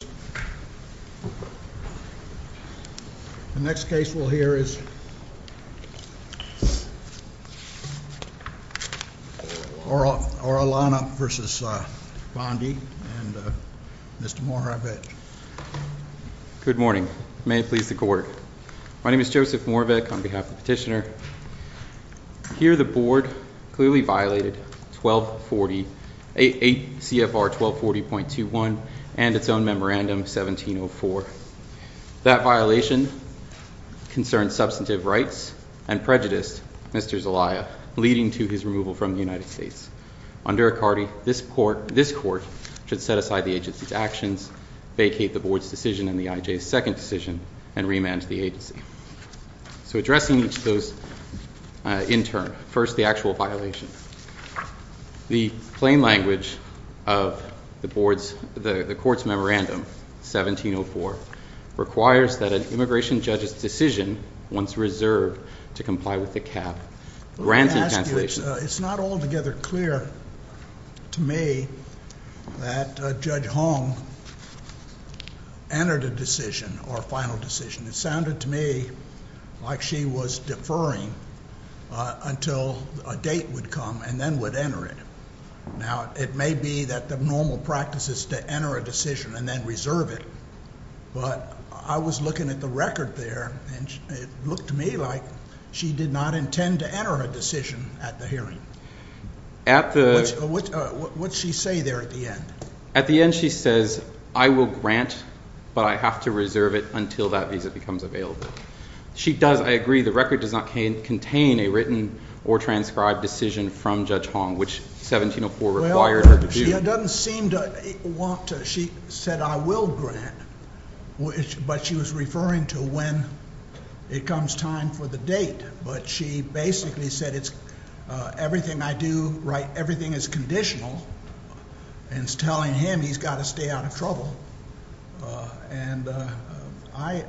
Good morning. May it please the court. My name is Joseph Moravec, on behalf of the petitioner. Here the board clearly violated 1240, 8 CFR 1240.21 and its own memorandum. The board 1704. That violation concerned substantive rights and prejudiced Mr. Zalaya, leading to his removal from the United States. Under a CARTI, this court should set aside the agency's actions, vacate the board's decision and the IJ's second decision, and remand the agency. So addressing each of those in turn. First, the actual violation. The plain language of the board's, the court's memorandum, 1704, requires that an immigration judge's decision, once reserved to comply with the CAP, grant a cancellation. Let me ask you, it's not altogether clear to me that Judge Holm entered a decision or a final decision. It sounded to me like she was deferring until a date would come and then would enter it. Now, it may be that the normal practice is to enter a decision and then reserve it, but I was looking at the record there and it looked to me like she did not intend to enter a decision at the hearing. At the, what did she say there at the end? At the end she says, I will grant, but I have to reserve it until that visa becomes available. She does, I agree, the record does not contain a written or transcribed decision from Judge Holm, which 1704 required her to do. Well, she doesn't seem to want to, she said I will grant, but she was referring to when it comes time for the date, but she basically said it's, everything I do, right, everything is conditional, and it's telling him he's got to stay out of trouble. And I,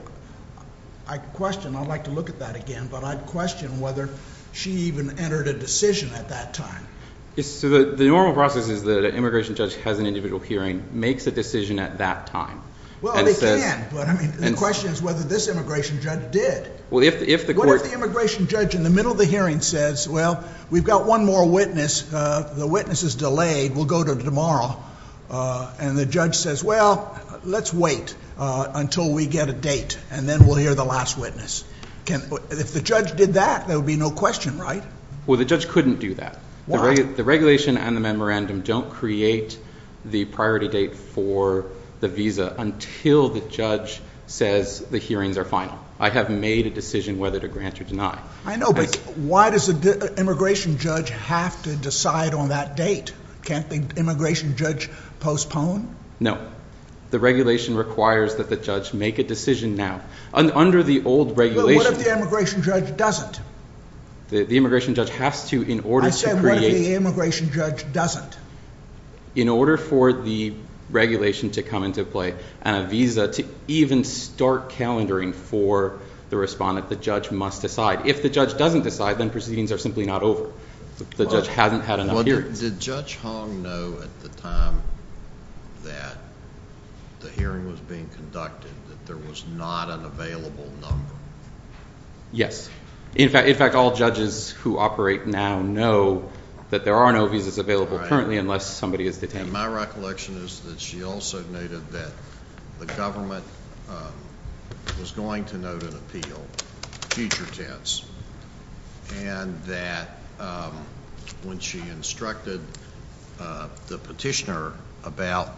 I question, I'd like to look at that again, but I'd question whether she even entered a decision at that time. Yes, so the normal process is that an immigration judge has an individual hearing, makes a decision at that time, and says Well, they can, but I mean, the question is whether this immigration judge did. Well, if the court What if the immigration judge in the middle of the hearing says, well, we've got one more witness, the witness is delayed, we'll go to tomorrow, and the judge says, well, let's wait until we get a date, and then we'll hear the last witness. If the judge did that, there would be no question, right? Well, the judge couldn't do that. The regulation and the memorandum don't create the priority date for the visa until the judge says the hearings are final. I have made a decision whether to grant or deny. I know, but why does the immigration judge have to decide on that date? Can't the immigration judge postpone? No. The regulation requires that the judge make a decision now. Under the old regulation What if the immigration judge doesn't? The immigration judge has to in order to create I said, what if the immigration judge doesn't? In order for the regulation to come into play, and a visa to even start calendaring for the respondent, the judge must decide. If the judge doesn't decide, then proceedings are simply not over. The judge hasn't had enough hearings. Did Judge Hong know at the time that the hearing was being conducted that there was not an available number? Yes. In fact, all judges who operate now know that there are no visas available currently unless somebody is detained. And my recollection is that she also noted that the government was going to note an appeal, future tense, and that when she instructed the petitioner about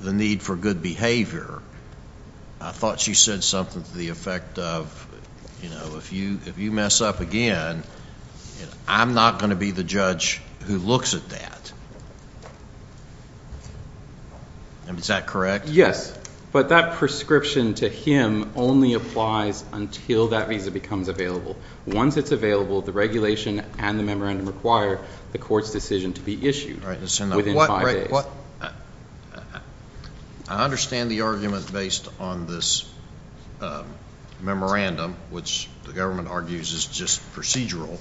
the need for good behavior, I thought she said something to the effect of, you know, if you mess up again, I'm not going to be the judge who looks at that. Is that correct? Yes. But that prescription to him only applies until that visa becomes available. Once it's available, the regulation and the memorandum require the court's decision to be issued within five days. I understand the argument based on this memorandum, which the government argues is just procedural,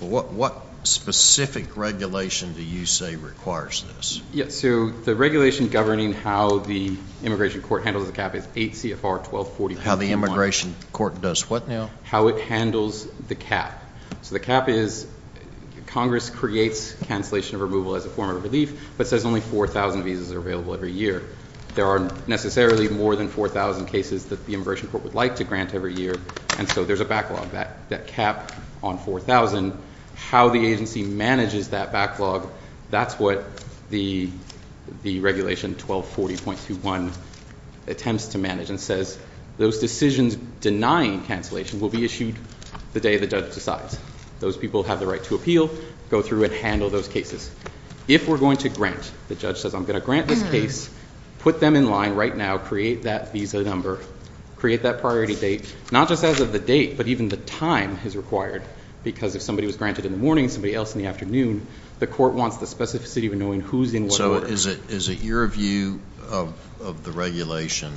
but what specific regulation do you say requires this? Yes. So the regulation governing how the immigration court handles the cap is 8 CFR 1240. How the immigration court does what now? How it handles the cap. So the cap is Congress creates cancellation of removal as a form of relief, but says only 4,000 visas are available every year. There are necessarily more than 4,000 cases that the immigration court would like to grant every year, and so there's a backlog. That cap on 4,000, how the agency manages that backlog, that's what the regulation 1240.21 attempts to manage and says those decisions denying cancellation will be issued the day the judge decides. Those people have the right to appeal, go through and handle those cases. If we're going to grant, the judge says I'm going to grant this case, put them in line right now, create that visa number, create that priority date, not just as of the date, but even the time is required, because if somebody was granted in the morning, somebody else in the afternoon, the court wants the specificity of knowing who's in what order. So is it your view of the regulation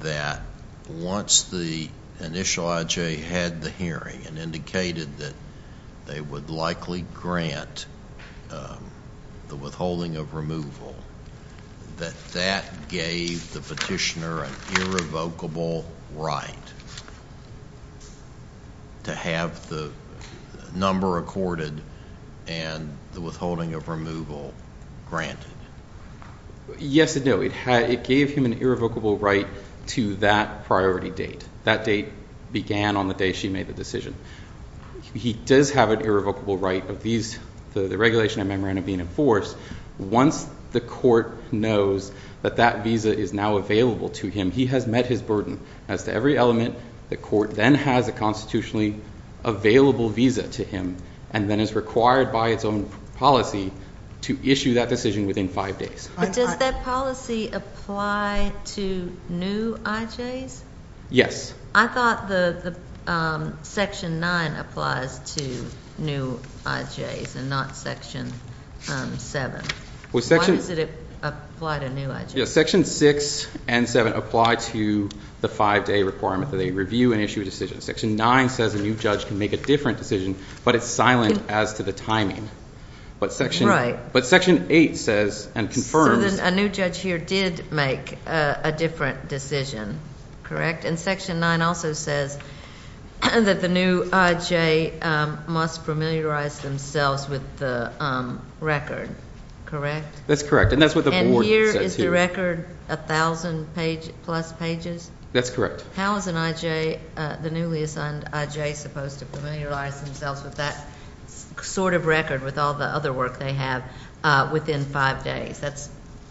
that once the initial IJ had the hearing and indicated that they would likely grant the withholding of removal, that that gave the petitioner an irrevocable right to have the number accorded and the withholding of removal granted? Yes and no. It gave him an irrevocable right to that priority date. That date began on the day she made the decision. He does have an irrevocable right of these, the regulation and memorandum being enforced. Once the court knows that that visa is now available to him, he has met his burden. As to every element, the court then has a constitutionally available visa to him and then is required by its own policy to issue that decision within five days. Does that policy apply to new IJs? Yes. I thought section 9 applies to new IJs and not section 7. Why does it apply to new IJs? Section 6 and 7 apply to the five-day requirement that they review and issue a decision. Section 9 says a new judge can make a different decision, but it's silent as to the timing. Right. But section 8 says and confirms. So a new judge here did make a different decision, correct? And section 9 also says that the new IJ must familiarize themselves with the record, correct? That's correct. And that's what the board says here. And here is the record 1,000 plus pages? That's correct. How is an IJ, the newly assigned IJ, supposed to familiarize themselves with that sort of record with all the other work they have within five days? That's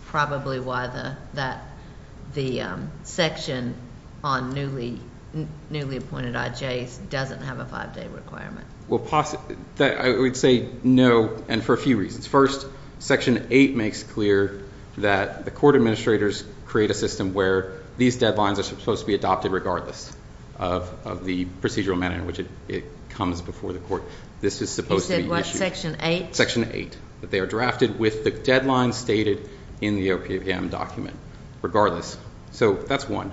probably why the section on newly appointed IJs doesn't have a five-day requirement. I would say no, and for a few reasons. First, section 8 makes clear that the court administrators create a system where these deadlines are supposed to be adopted regardless of the procedural manner in which it comes before the court. This is supposed to be issued. You said what, section 8? Section 8, that they are drafted with the deadline stated in the OPM document regardless. So that's one.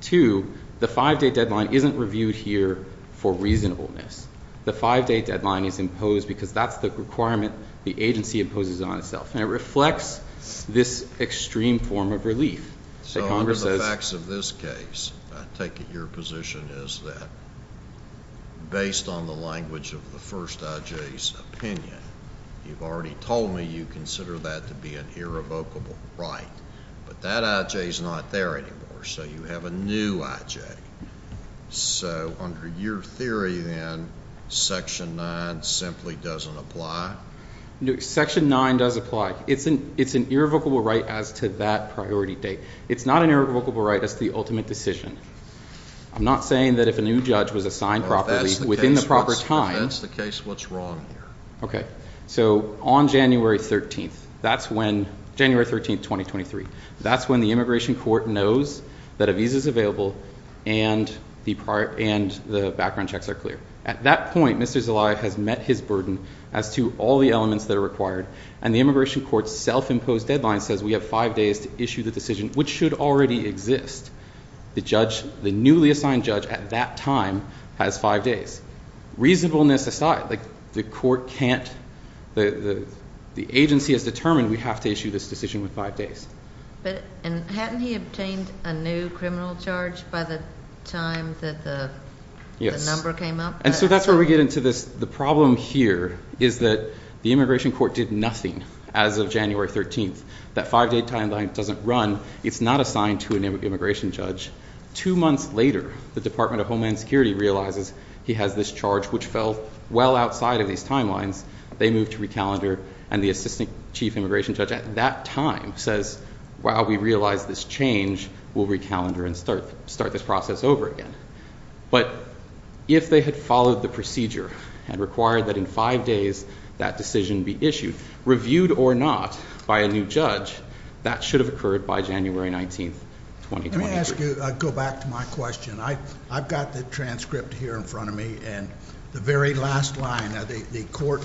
Two, the five-day deadline isn't reviewed here for reasonableness. The five-day deadline is imposed because that's the requirement the agency imposes on itself, and it reflects this extreme form of relief. So under the facts of this case, I take it your position is that based on the language of the first IJ's opinion, you've already told me you consider that to be an irrevocable right, but that IJ is not there anymore, so you have a new IJ. So under your theory, then, section 9 simply doesn't apply? Section 9 does apply. It's an irrevocable right as to that priority date. It's not an irrevocable right as to the ultimate decision. I'm not saying that if a new judge was assigned properly within the proper time. If that's the case, what's wrong here? Okay. So on January 13th, that's when the immigration court knows that a visa is available and the background checks are clear. At that point, Mr. Zelaya has met his burden as to all the elements that are required, and the immigration court's self-imposed deadline says we have five days to issue the decision, which should already exist. The newly assigned judge at that time has five days. Reasonableness aside, the agency has determined we have to issue this decision within five days. But hadn't he obtained a new criminal charge by the time that the number came up? Yes, and so that's where we get into this. The problem here is that the immigration court did nothing as of January 13th. That five-day timeline doesn't run. It's not assigned to an immigration judge. Two months later, the Department of Homeland Security realizes he has this charge, which fell well outside of these timelines. They move to recalendar, and the assistant chief immigration judge at that time says, wow, we realize this change. We'll recalendar and start this process over again. But if they had followed the procedure and required that in five days that decision be issued, reviewed or not by a new judge, that should have occurred by January 19th, 2023. Let me ask you, go back to my question. I've got the transcript here in front of me, and the very last line of the court,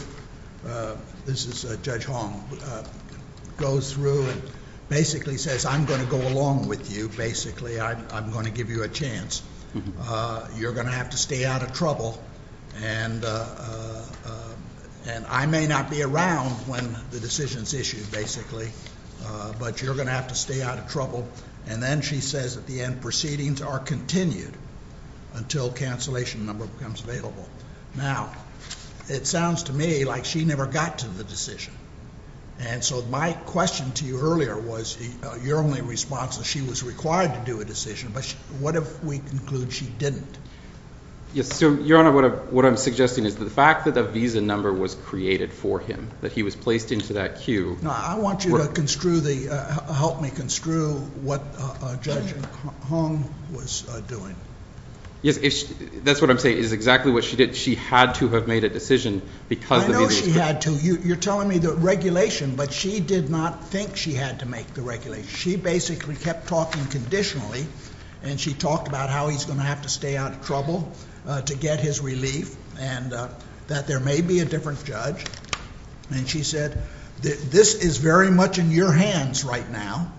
this is Judge Hong, goes through and basically says, I'm going to go along with you. Basically, I'm going to give you a chance. You're going to have to stay out of trouble. And I may not be around when the decision is issued, basically. But you're going to have to stay out of trouble. And then she says at the end, proceedings are continued until a cancellation number becomes available. Now, it sounds to me like she never got to the decision. And so my question to you earlier was your only response is she was required to do a decision. But what if we conclude she didn't? Yes, so, Your Honor, what I'm suggesting is the fact that the visa number was created for him, that he was placed into that queue. Now, I want you to help me construe what Judge Hong was doing. Yes, that's what I'm saying is exactly what she did. She had to have made a decision because the visa was created. I know she had to. You're telling me the regulation, but she did not think she had to make the regulation. She basically kept talking conditionally. And she talked about how he's going to have to stay out of trouble to get his relief and that there may be a different judge. And she said this is very much in your hands right now,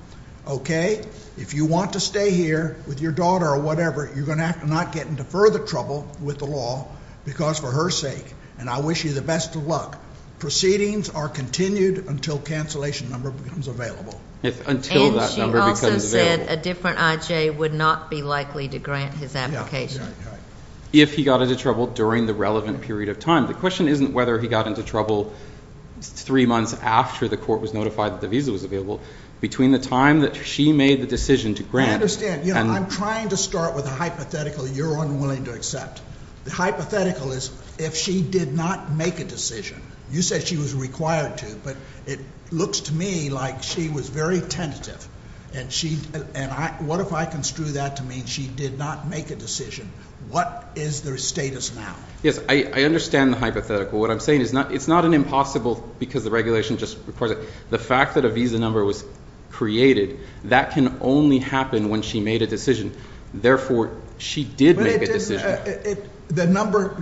okay? If you want to stay here with your daughter or whatever, you're going to have to not get into further trouble with the law because for her sake, and I wish you the best of luck, proceedings are continued until cancellation number becomes available. Until that number becomes available. And she also said a different I.J. would not be likely to grant his application. If he got into trouble during the relevant period of time. The question isn't whether he got into trouble three months after the court was notified that the visa was available. Between the time that she made the decision to grant. I understand. I'm trying to start with a hypothetical you're unwilling to accept. The hypothetical is if she did not make a decision. You said she was required to, but it looks to me like she was very tentative. And what if I construe that to mean she did not make a decision? What is their status now? Yes, I understand the hypothetical. What I'm saying is it's not an impossible because the regulation just requires it. The fact that a visa number was created, that can only happen when she made a decision. Therefore, she did make a decision.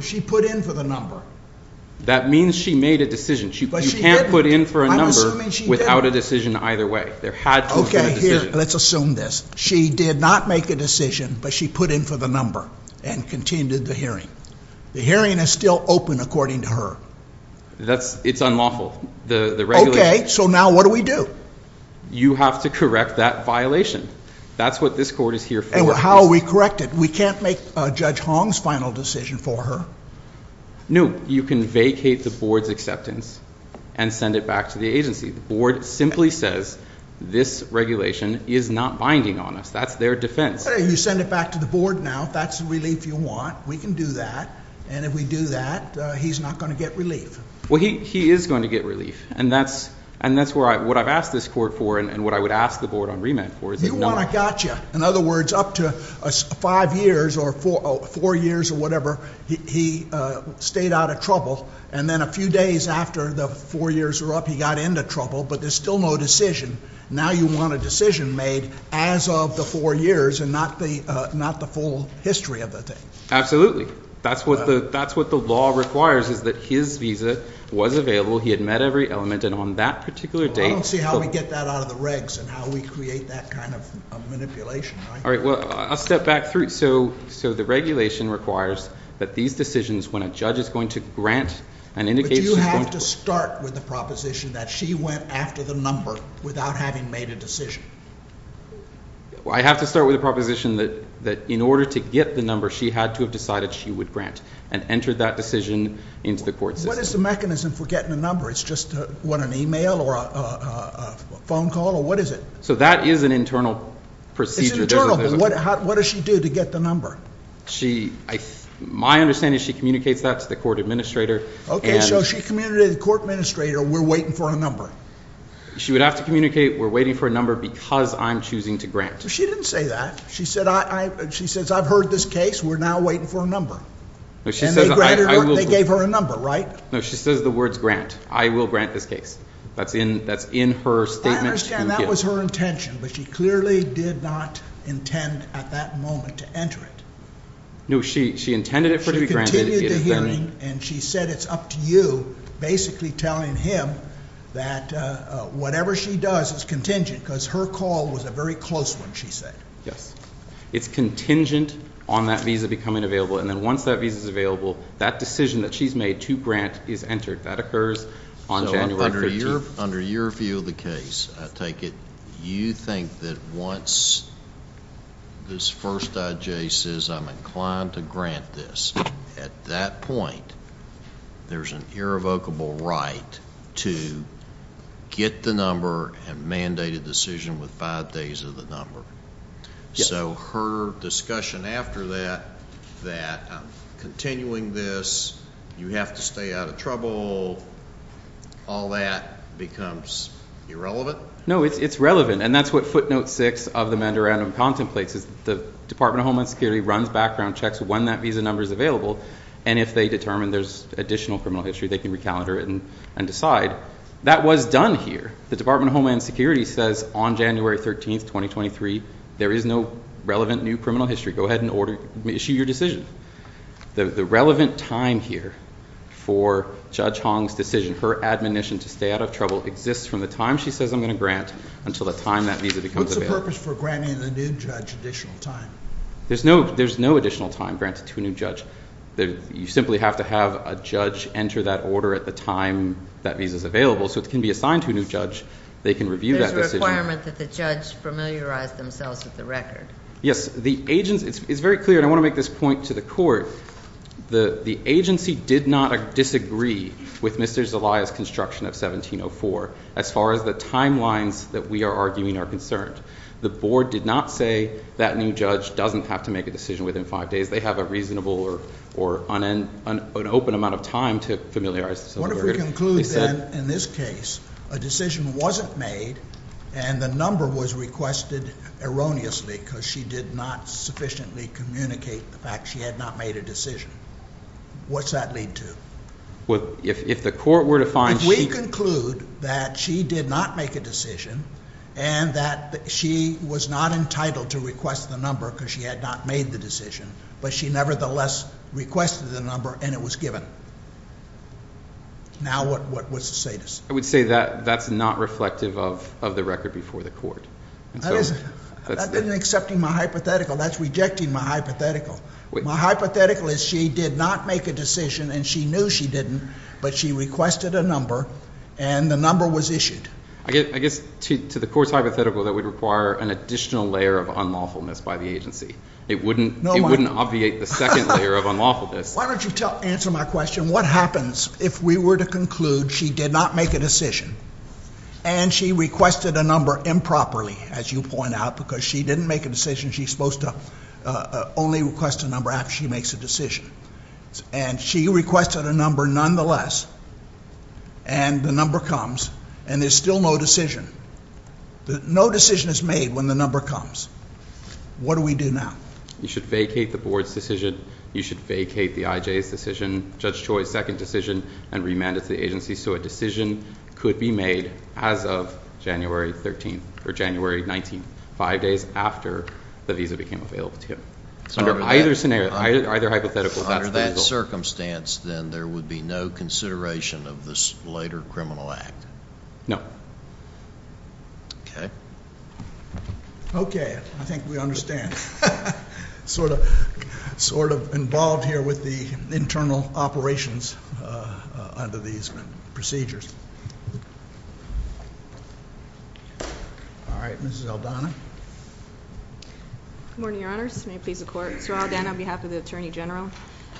She put in for the number. That means she made a decision. You can't put in for a number without a decision either way. There had to have been a decision. Let's assume this. She did not make a decision, but she put in for the number and continued the hearing. The hearing is still open according to her. It's unlawful. Okay, so now what do we do? You have to correct that violation. That's what this court is here for. How are we correct it? We can't make Judge Hong's final decision for her. No, you can vacate the board's acceptance and send it back to the agency. The board simply says this regulation is not binding on us. That's their defense. You send it back to the board now. If that's the relief you want, we can do that. And if we do that, he's not going to get relief. Well, he is going to get relief. And that's what I've asked this court for and what I would ask the board on remand for. You want a gotcha. In other words, up to five years or four years or whatever, he stayed out of trouble. And then a few days after the four years were up, he got into trouble, but there's still no decision. Now you want a decision made as of the four years and not the full history of the thing. Absolutely. That's what the law requires is that his visa was available, he had met every element, and on that particular date. I don't see how we get that out of the regs and how we create that kind of manipulation. Well, I'll step back through. So the regulation requires that these decisions, when a judge is going to grant and indicate... But you have to start with the proposition that she went after the number without having made a decision. I have to start with the proposition that in order to get the number, she had to have decided she would grant and entered that decision into the court system. What is the mechanism for getting a number? It's just, what, an email or a phone call or what is it? So that is an internal procedure. It's internal, but what does she do to get the number? My understanding is she communicates that to the court administrator. Okay, so she communicated to the court administrator, we're waiting for a number. She would have to communicate, we're waiting for a number because I'm choosing to grant. She didn't say that. She says, I've heard this case, we're now waiting for a number. And they granted her, they gave her a number, right? No, she says the words grant, I will grant this case. That's in her statement. I understand that was her intention, but she clearly did not intend at that moment to enter it. No, she intended it for it to be granted. She continued the hearing and she said it's up to you, basically telling him that whatever she does is contingent because her call was a very close one, she said. Yes. It's contingent on that visa becoming available, and then once that visa is available, that decision that she's made to grant is entered. That occurs on January 13th. So under your view of the case, I take it you think that once this first IJ says I'm inclined to grant this, at that point there's an irrevocable right to get the number and mandate a decision with five days of the number. Yes. So her discussion after that, that continuing this, you have to stay out of trouble, all that becomes irrelevant? No, it's relevant, and that's what footnote six of the mandoranum contemplates, is the Department of Homeland Security runs background checks when that visa number is available, and if they determine there's additional criminal history, they can recalibrate it and decide. That was done here. The Department of Homeland Security says on January 13th, 2023, there is no relevant new criminal history. Go ahead and issue your decision. The relevant time here for Judge Hong's decision, her admonition to stay out of trouble, exists from the time she says I'm going to grant until the time that visa becomes available. What's the purpose for granting the new judge additional time? There's no additional time granted to a new judge. You simply have to have a judge enter that order at the time that visa is available, so it can be assigned to a new judge, they can review that decision. There's a requirement that the judge familiarize themselves with the record. Yes. It's very clear, and I want to make this point to the court, the agency did not disagree with Mr. Zelaya's construction of 1704, as far as the timelines that we are arguing are concerned. The board did not say that new judge doesn't have to make a decision within five days, they have a reasonable or open amount of time to familiarize themselves with the record. What if we conclude then, in this case, a decision wasn't made, and the number was requested erroneously because she did not sufficiently communicate the fact she had not made a decision? What's that lead to? If the court were to find she... If we conclude that she did not make a decision, and that she was not entitled to request the number because she had not made the decision, but she nevertheless requested the number and it was given, now what's the status? I would say that that's not reflective of the record before the court. That isn't accepting my hypothetical, that's rejecting my hypothetical. My hypothetical is she did not make a decision, and she knew she didn't, but she requested a number, and the number was issued. I guess to the court's hypothetical, that would require an additional layer of unlawfulness by the agency. It wouldn't obviate the second layer of unlawfulness. Why don't you answer my question? What happens if we were to conclude she did not make a decision, and she requested a number improperly, as you point out, because she didn't make a decision. She's supposed to only request a number after she makes a decision. And she requested a number nonetheless, and the number comes, and there's still no decision. No decision is made when the number comes. What do we do now? You should vacate the board's decision. You should vacate the IJ's decision, Judge Choi's second decision, and remand it to the agency so a decision could be made as of January 13th, or January 19th, five days after the visa became available to him. Under either hypothetical, that's the result. Under that circumstance, then there would be no consideration of this later criminal act? No. Okay. Okay. I think we understand. Sort of involved here with the internal operations under these procedures. All right. Mrs. Aldana. Good morning, Your Honors. May it please the Court. Sir Aldana, on behalf of the Attorney General.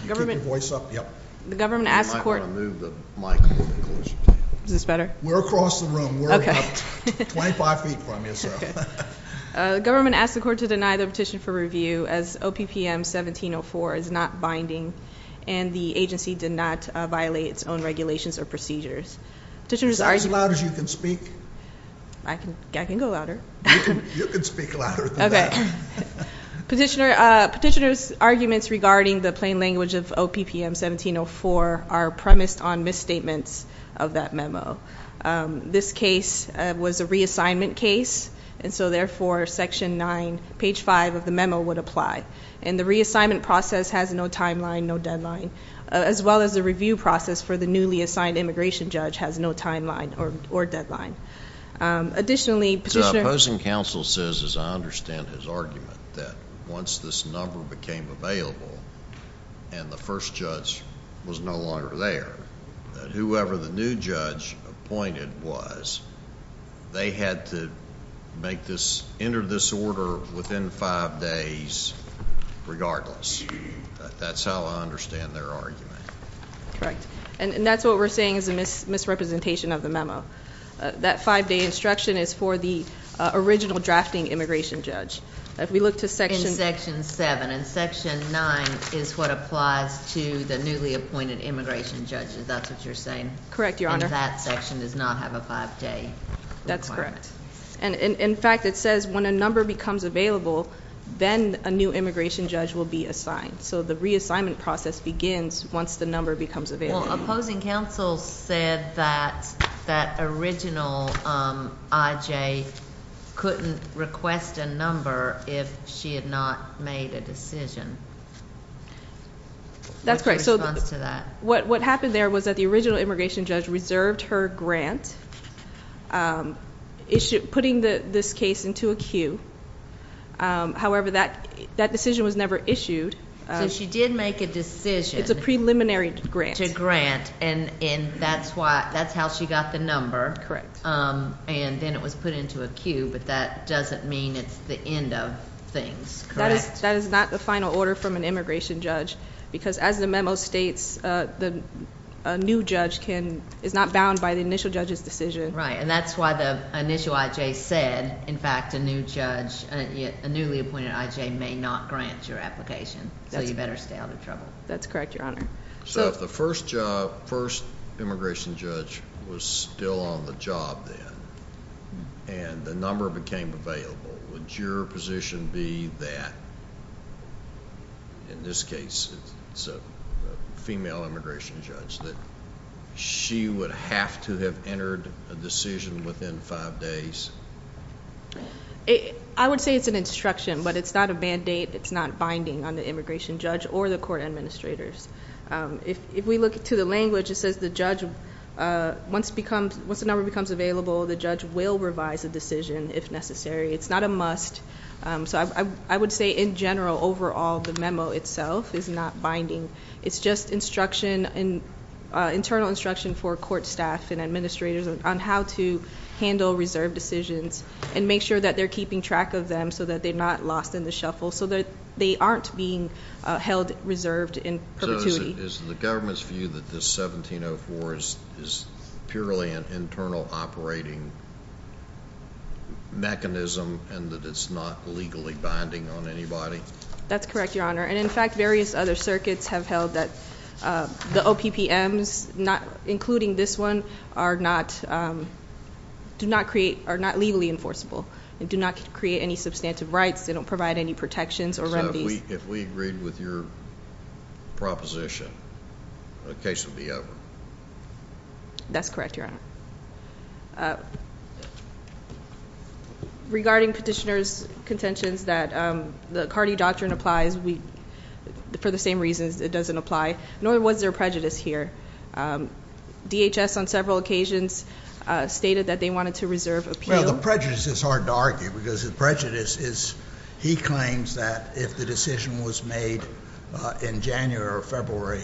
You keep your voice up? Yep. The government asks the Court. Am I going to move the mic? Is this better? We're across the room. Okay. You're about 25 feet from yourself. The government asks the Court to deny the petition for review as OPPM 1704 is not binding, and the agency did not violate its own regulations or procedures. Is that as loud as you can speak? I can go louder. You can speak louder than that. Okay. Petitioner's arguments regarding the plain language of OPPM 1704 are premised on misstatements of that memo. This case was a reassignment case, and so, therefore, section nine, page five of the memo would apply. And the reassignment process has no timeline, no deadline, as well as the review process for the newly assigned immigration judge has no timeline or deadline. Additionally, petitioner... The opposing counsel says, as I understand his argument, that once this number became available and the first judge was no longer there, that whoever the new judge appointed was, they had to make this, enter this order within five days regardless. That's how I understand their argument. Correct. And that's what we're saying is a misrepresentation of the memo. That five-day instruction is for the original drafting immigration judge. If we look to section... In section seven. And section nine is what applies to the newly appointed immigration judge. Is that what you're saying? Correct, Your Honor. And that section does not have a five-day requirement. That's correct. And, in fact, it says when a number becomes available, then a new immigration judge will be assigned. So the reassignment process begins once the number becomes available. Well, opposing counsel said that that original I.J. couldn't request a number if she had not made a decision. That's correct. What's your response to that? What happened there was that the original immigration judge reserved her grant, putting this case into a queue. However, that decision was never issued. So she did make a decision. It's a preliminary grant. To grant, and that's how she got the number. Correct. And then it was put into a queue, but that doesn't mean it's the end of things, correct? That is not the final order from an immigration judge because, as the memo states, a new judge is not bound by the initial judge's decision. Right, and that's why the initial I.J. said, in fact, a newly appointed I.J. may not grant your application, so you better stay out of trouble. That's correct, Your Honor. So if the first immigration judge was still on the job then and the number became available, would your position be that, in this case, it's a female immigration judge, that she would have to have entered a decision within five days? I would say it's an instruction, but it's not a mandate. It's not binding on the immigration judge or the court administrators. If we look to the language, it says the judge, once the number becomes available, the judge will revise the decision if necessary. It's not a must. So I would say, in general, overall, the memo itself is not binding. It's just internal instruction for court staff and administrators on how to handle reserve decisions and make sure that they're keeping track of them so that they're not lost in the shuffle, so that they aren't being held reserved in perpetuity. So is the government's view that this 1704 is purely an internal operating mechanism and that it's not legally binding on anybody? That's correct, Your Honor. And, in fact, various other circuits have held that the OPPMs, including this one, are not legally enforceable. They do not create any substantive rights. They don't provide any protections or remedies. So if we agreed with your proposition, the case would be over? That's correct, Your Honor. Regarding petitioner's contentions that the Carde doctrine applies for the same reasons it doesn't apply, nor was there prejudice here. DHS, on several occasions, stated that they wanted to reserve appeal. Well, the prejudice is hard to argue because the prejudice is he claims that if the decision was made in January or February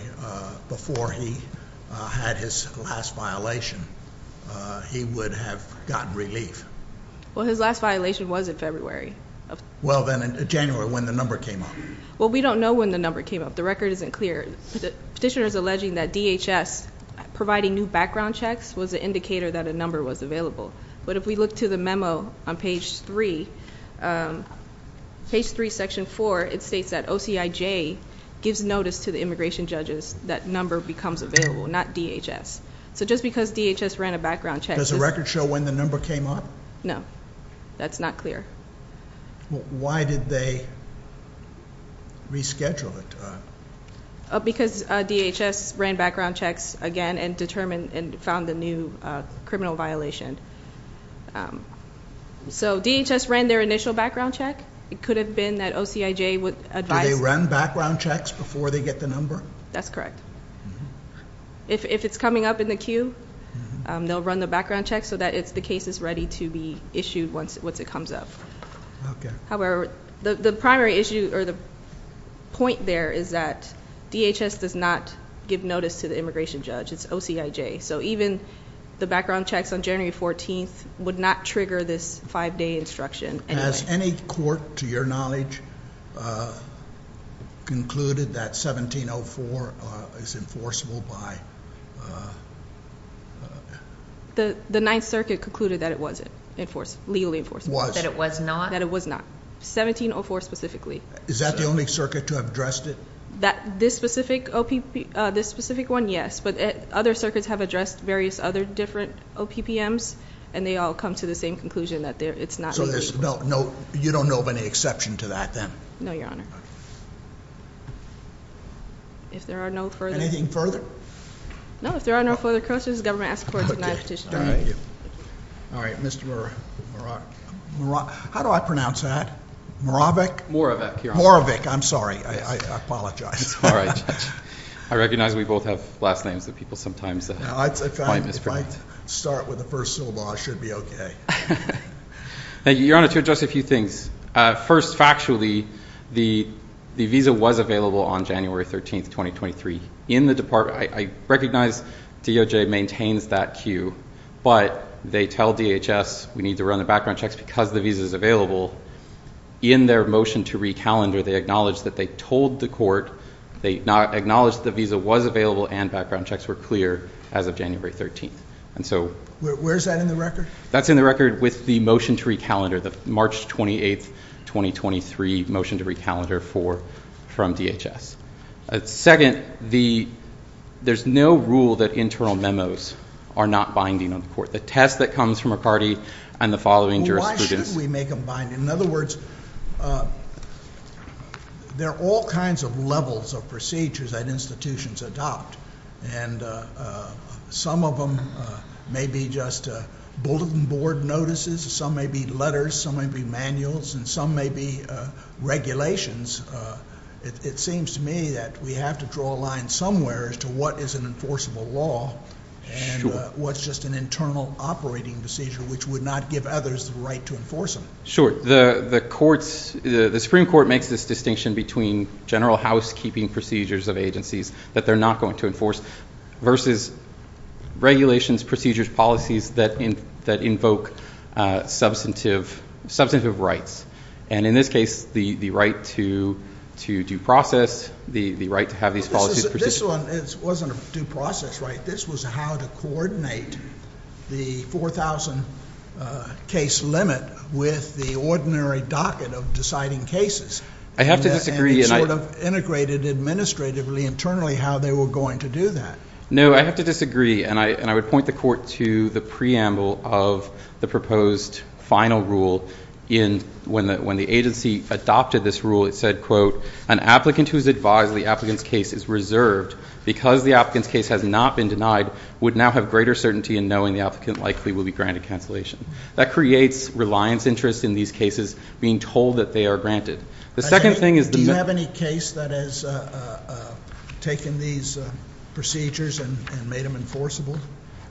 before he had his last violation, he would have gotten relief. Well, his last violation was in February. Well, then, in January, when the number came up? Well, we don't know when the number came up. The record isn't clear. Petitioner is alleging that DHS providing new background checks was an indicator that a number was available. But if we look to the memo on page three, page three, section four, it states that OCIJ gives notice to the immigration judges that number becomes available, not DHS. So just because DHS ran a background check doesn't mean that the number came up. Does the record show when the number came up? No. That's not clear. Why did they reschedule it? Because DHS ran background checks again and determined and found the new criminal violation. So DHS ran their initial background check. It could have been that OCIJ advised them. Do they run background checks before they get the number? That's correct. If it's coming up in the queue, they'll run the background check so that the case is ready to be issued once it comes up. However, the primary issue or the point there is that DHS does not give notice to the immigration judge. It's OCIJ. So even the background checks on January 14th would not trigger this five-day instruction anyway. Has any court, to your knowledge, concluded that 1704 is enforceable by? The Ninth Circuit concluded that it wasn't legally enforceable. That it was not? That it was not. 1704 specifically. Is that the only circuit to have addressed it? This specific one, yes. But other circuits have addressed various other different OPPMs, and they all come to the same conclusion that it's not legally enforceable. So you don't know of any exception to that then? No, Your Honor. Anything further? No, if there are no further questions, the government asks for a denied petition. All right, Mr. Moravec. How do I pronounce that? Moravec? Moravec, Your Honor. Moravec, I'm sorry. I apologize. It's all right, Judge. I recognize we both have last names that people sometimes find mispronounced. If I start with the first syllable, I should be okay. Thank you, Your Honor. To address a few things. First, factually, the visa was available on January 13th, 2023 in the department. I recognize DOJ maintains that queue, but they tell DHS we need to run the background checks because the visa is available. In their motion to recalendar, they acknowledge that they told the court, they acknowledged the visa was available and background checks were clear as of January 13th. Where is that in the record? That's in the record with the motion to recalendar, the March 28th, 2023 motion to recalendar from DHS. Second, there's no rule that internal memos are not binding on the court. The test that comes from a party and the following jurisprudence. Why should we make them bind? In other words, there are all kinds of levels of procedures that institutions adopt. And some of them may be just bulletin board notices. Some may be letters. Some may be manuals. And some may be regulations. It seems to me that we have to draw a line somewhere as to what is an enforceable law and what's just an internal operating procedure which would not give others the right to enforce them. Sure. The Supreme Court makes this distinction between general housekeeping procedures of agencies that they're not going to enforce versus regulations, procedures, policies that invoke substantive rights. And in this case, the right to due process, the right to have these policies. This one wasn't a due process, right? This was how to coordinate the 4,000 case limit with the ordinary docket of deciding cases. I have to disagree. And it sort of integrated administratively internally how they were going to do that. No, I have to disagree. And I would point the court to the preamble of the proposed final rule when the agency adopted this rule. It said, quote, an applicant who is advised the applicant's case is reserved because the applicant's case has not been denied would now have greater certainty in knowing the applicant likely will be granted cancellation. That creates reliance interest in these cases being told that they are granted. Do you have any case that has taken these procedures and made them enforceable?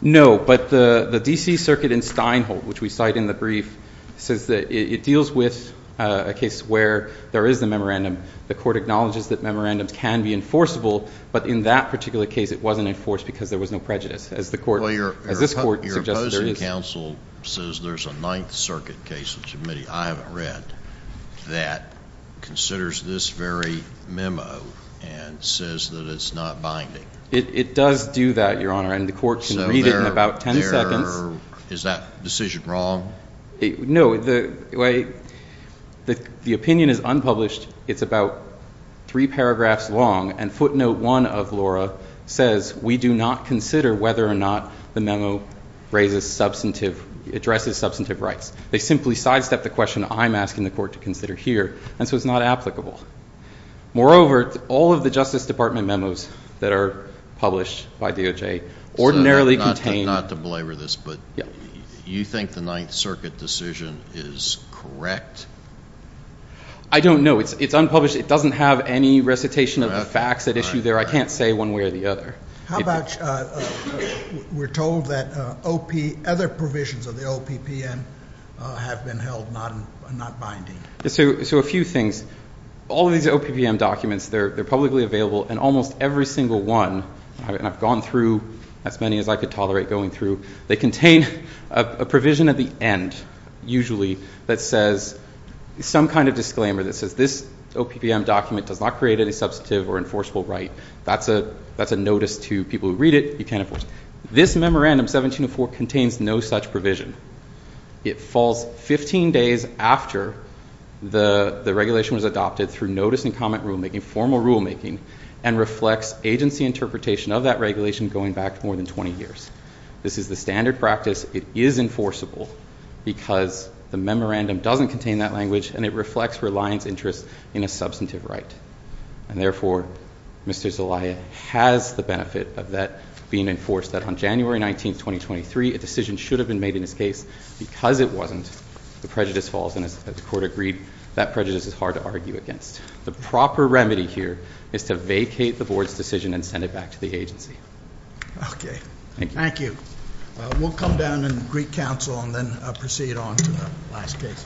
No, but the D.C. Circuit in Steinholt, which we cite in the brief, says that it deals with a case where there is a memorandum. The court acknowledges that memorandums can be enforceable, but in that particular case, it wasn't enforced because there was no prejudice, as this court suggested there is. The D.C. Council says there's a Ninth Circuit case in the committee I haven't read that considers this very memo and says that it's not binding. It does do that, Your Honor, and the court can read it in about 10 seconds. Is that decision wrong? No, the opinion is unpublished. It's about three paragraphs long, and footnote one of Laura says we do not consider whether or not the memo raises substantive, addresses substantive rights. They simply sidestep the question I'm asking the court to consider here, and so it's not applicable. Moreover, all of the Justice Department memos that are published by DOJ ordinarily contain. Not to belabor this, but you think the Ninth Circuit decision is correct? I don't know. It's unpublished. It doesn't have any recitation of the facts at issue there. I can't say one way or the other. How about we're told that other provisions of the OPPM have been held not binding? So a few things. All of these OPPM documents, they're publicly available, and almost every single one, and I've gone through as many as I could tolerate going through, they contain a provision at the end, usually, that says some kind of disclaimer that says this OPPM document does not create any substantive or enforceable right. That's a notice to people who read it. You can't enforce it. This memorandum, 1704, contains no such provision. It falls 15 days after the regulation was adopted through notice and comment rulemaking, formal rulemaking, and reflects agency interpretation of that regulation going back more than 20 years. This is the standard practice. It is enforceable because the memorandum doesn't contain that language, and it reflects reliance interests in a substantive right. And therefore, Mr. Zelaya has the benefit of that being enforced that on January 19, 2023, a decision should have been made in this case. Because it wasn't, the prejudice falls, and as the court agreed, that prejudice is hard to argue against. The proper remedy here is to vacate the board's decision and send it back to the agency. Okay. Thank you. We'll come down and greet counsel and then proceed on to the last case. Thank you.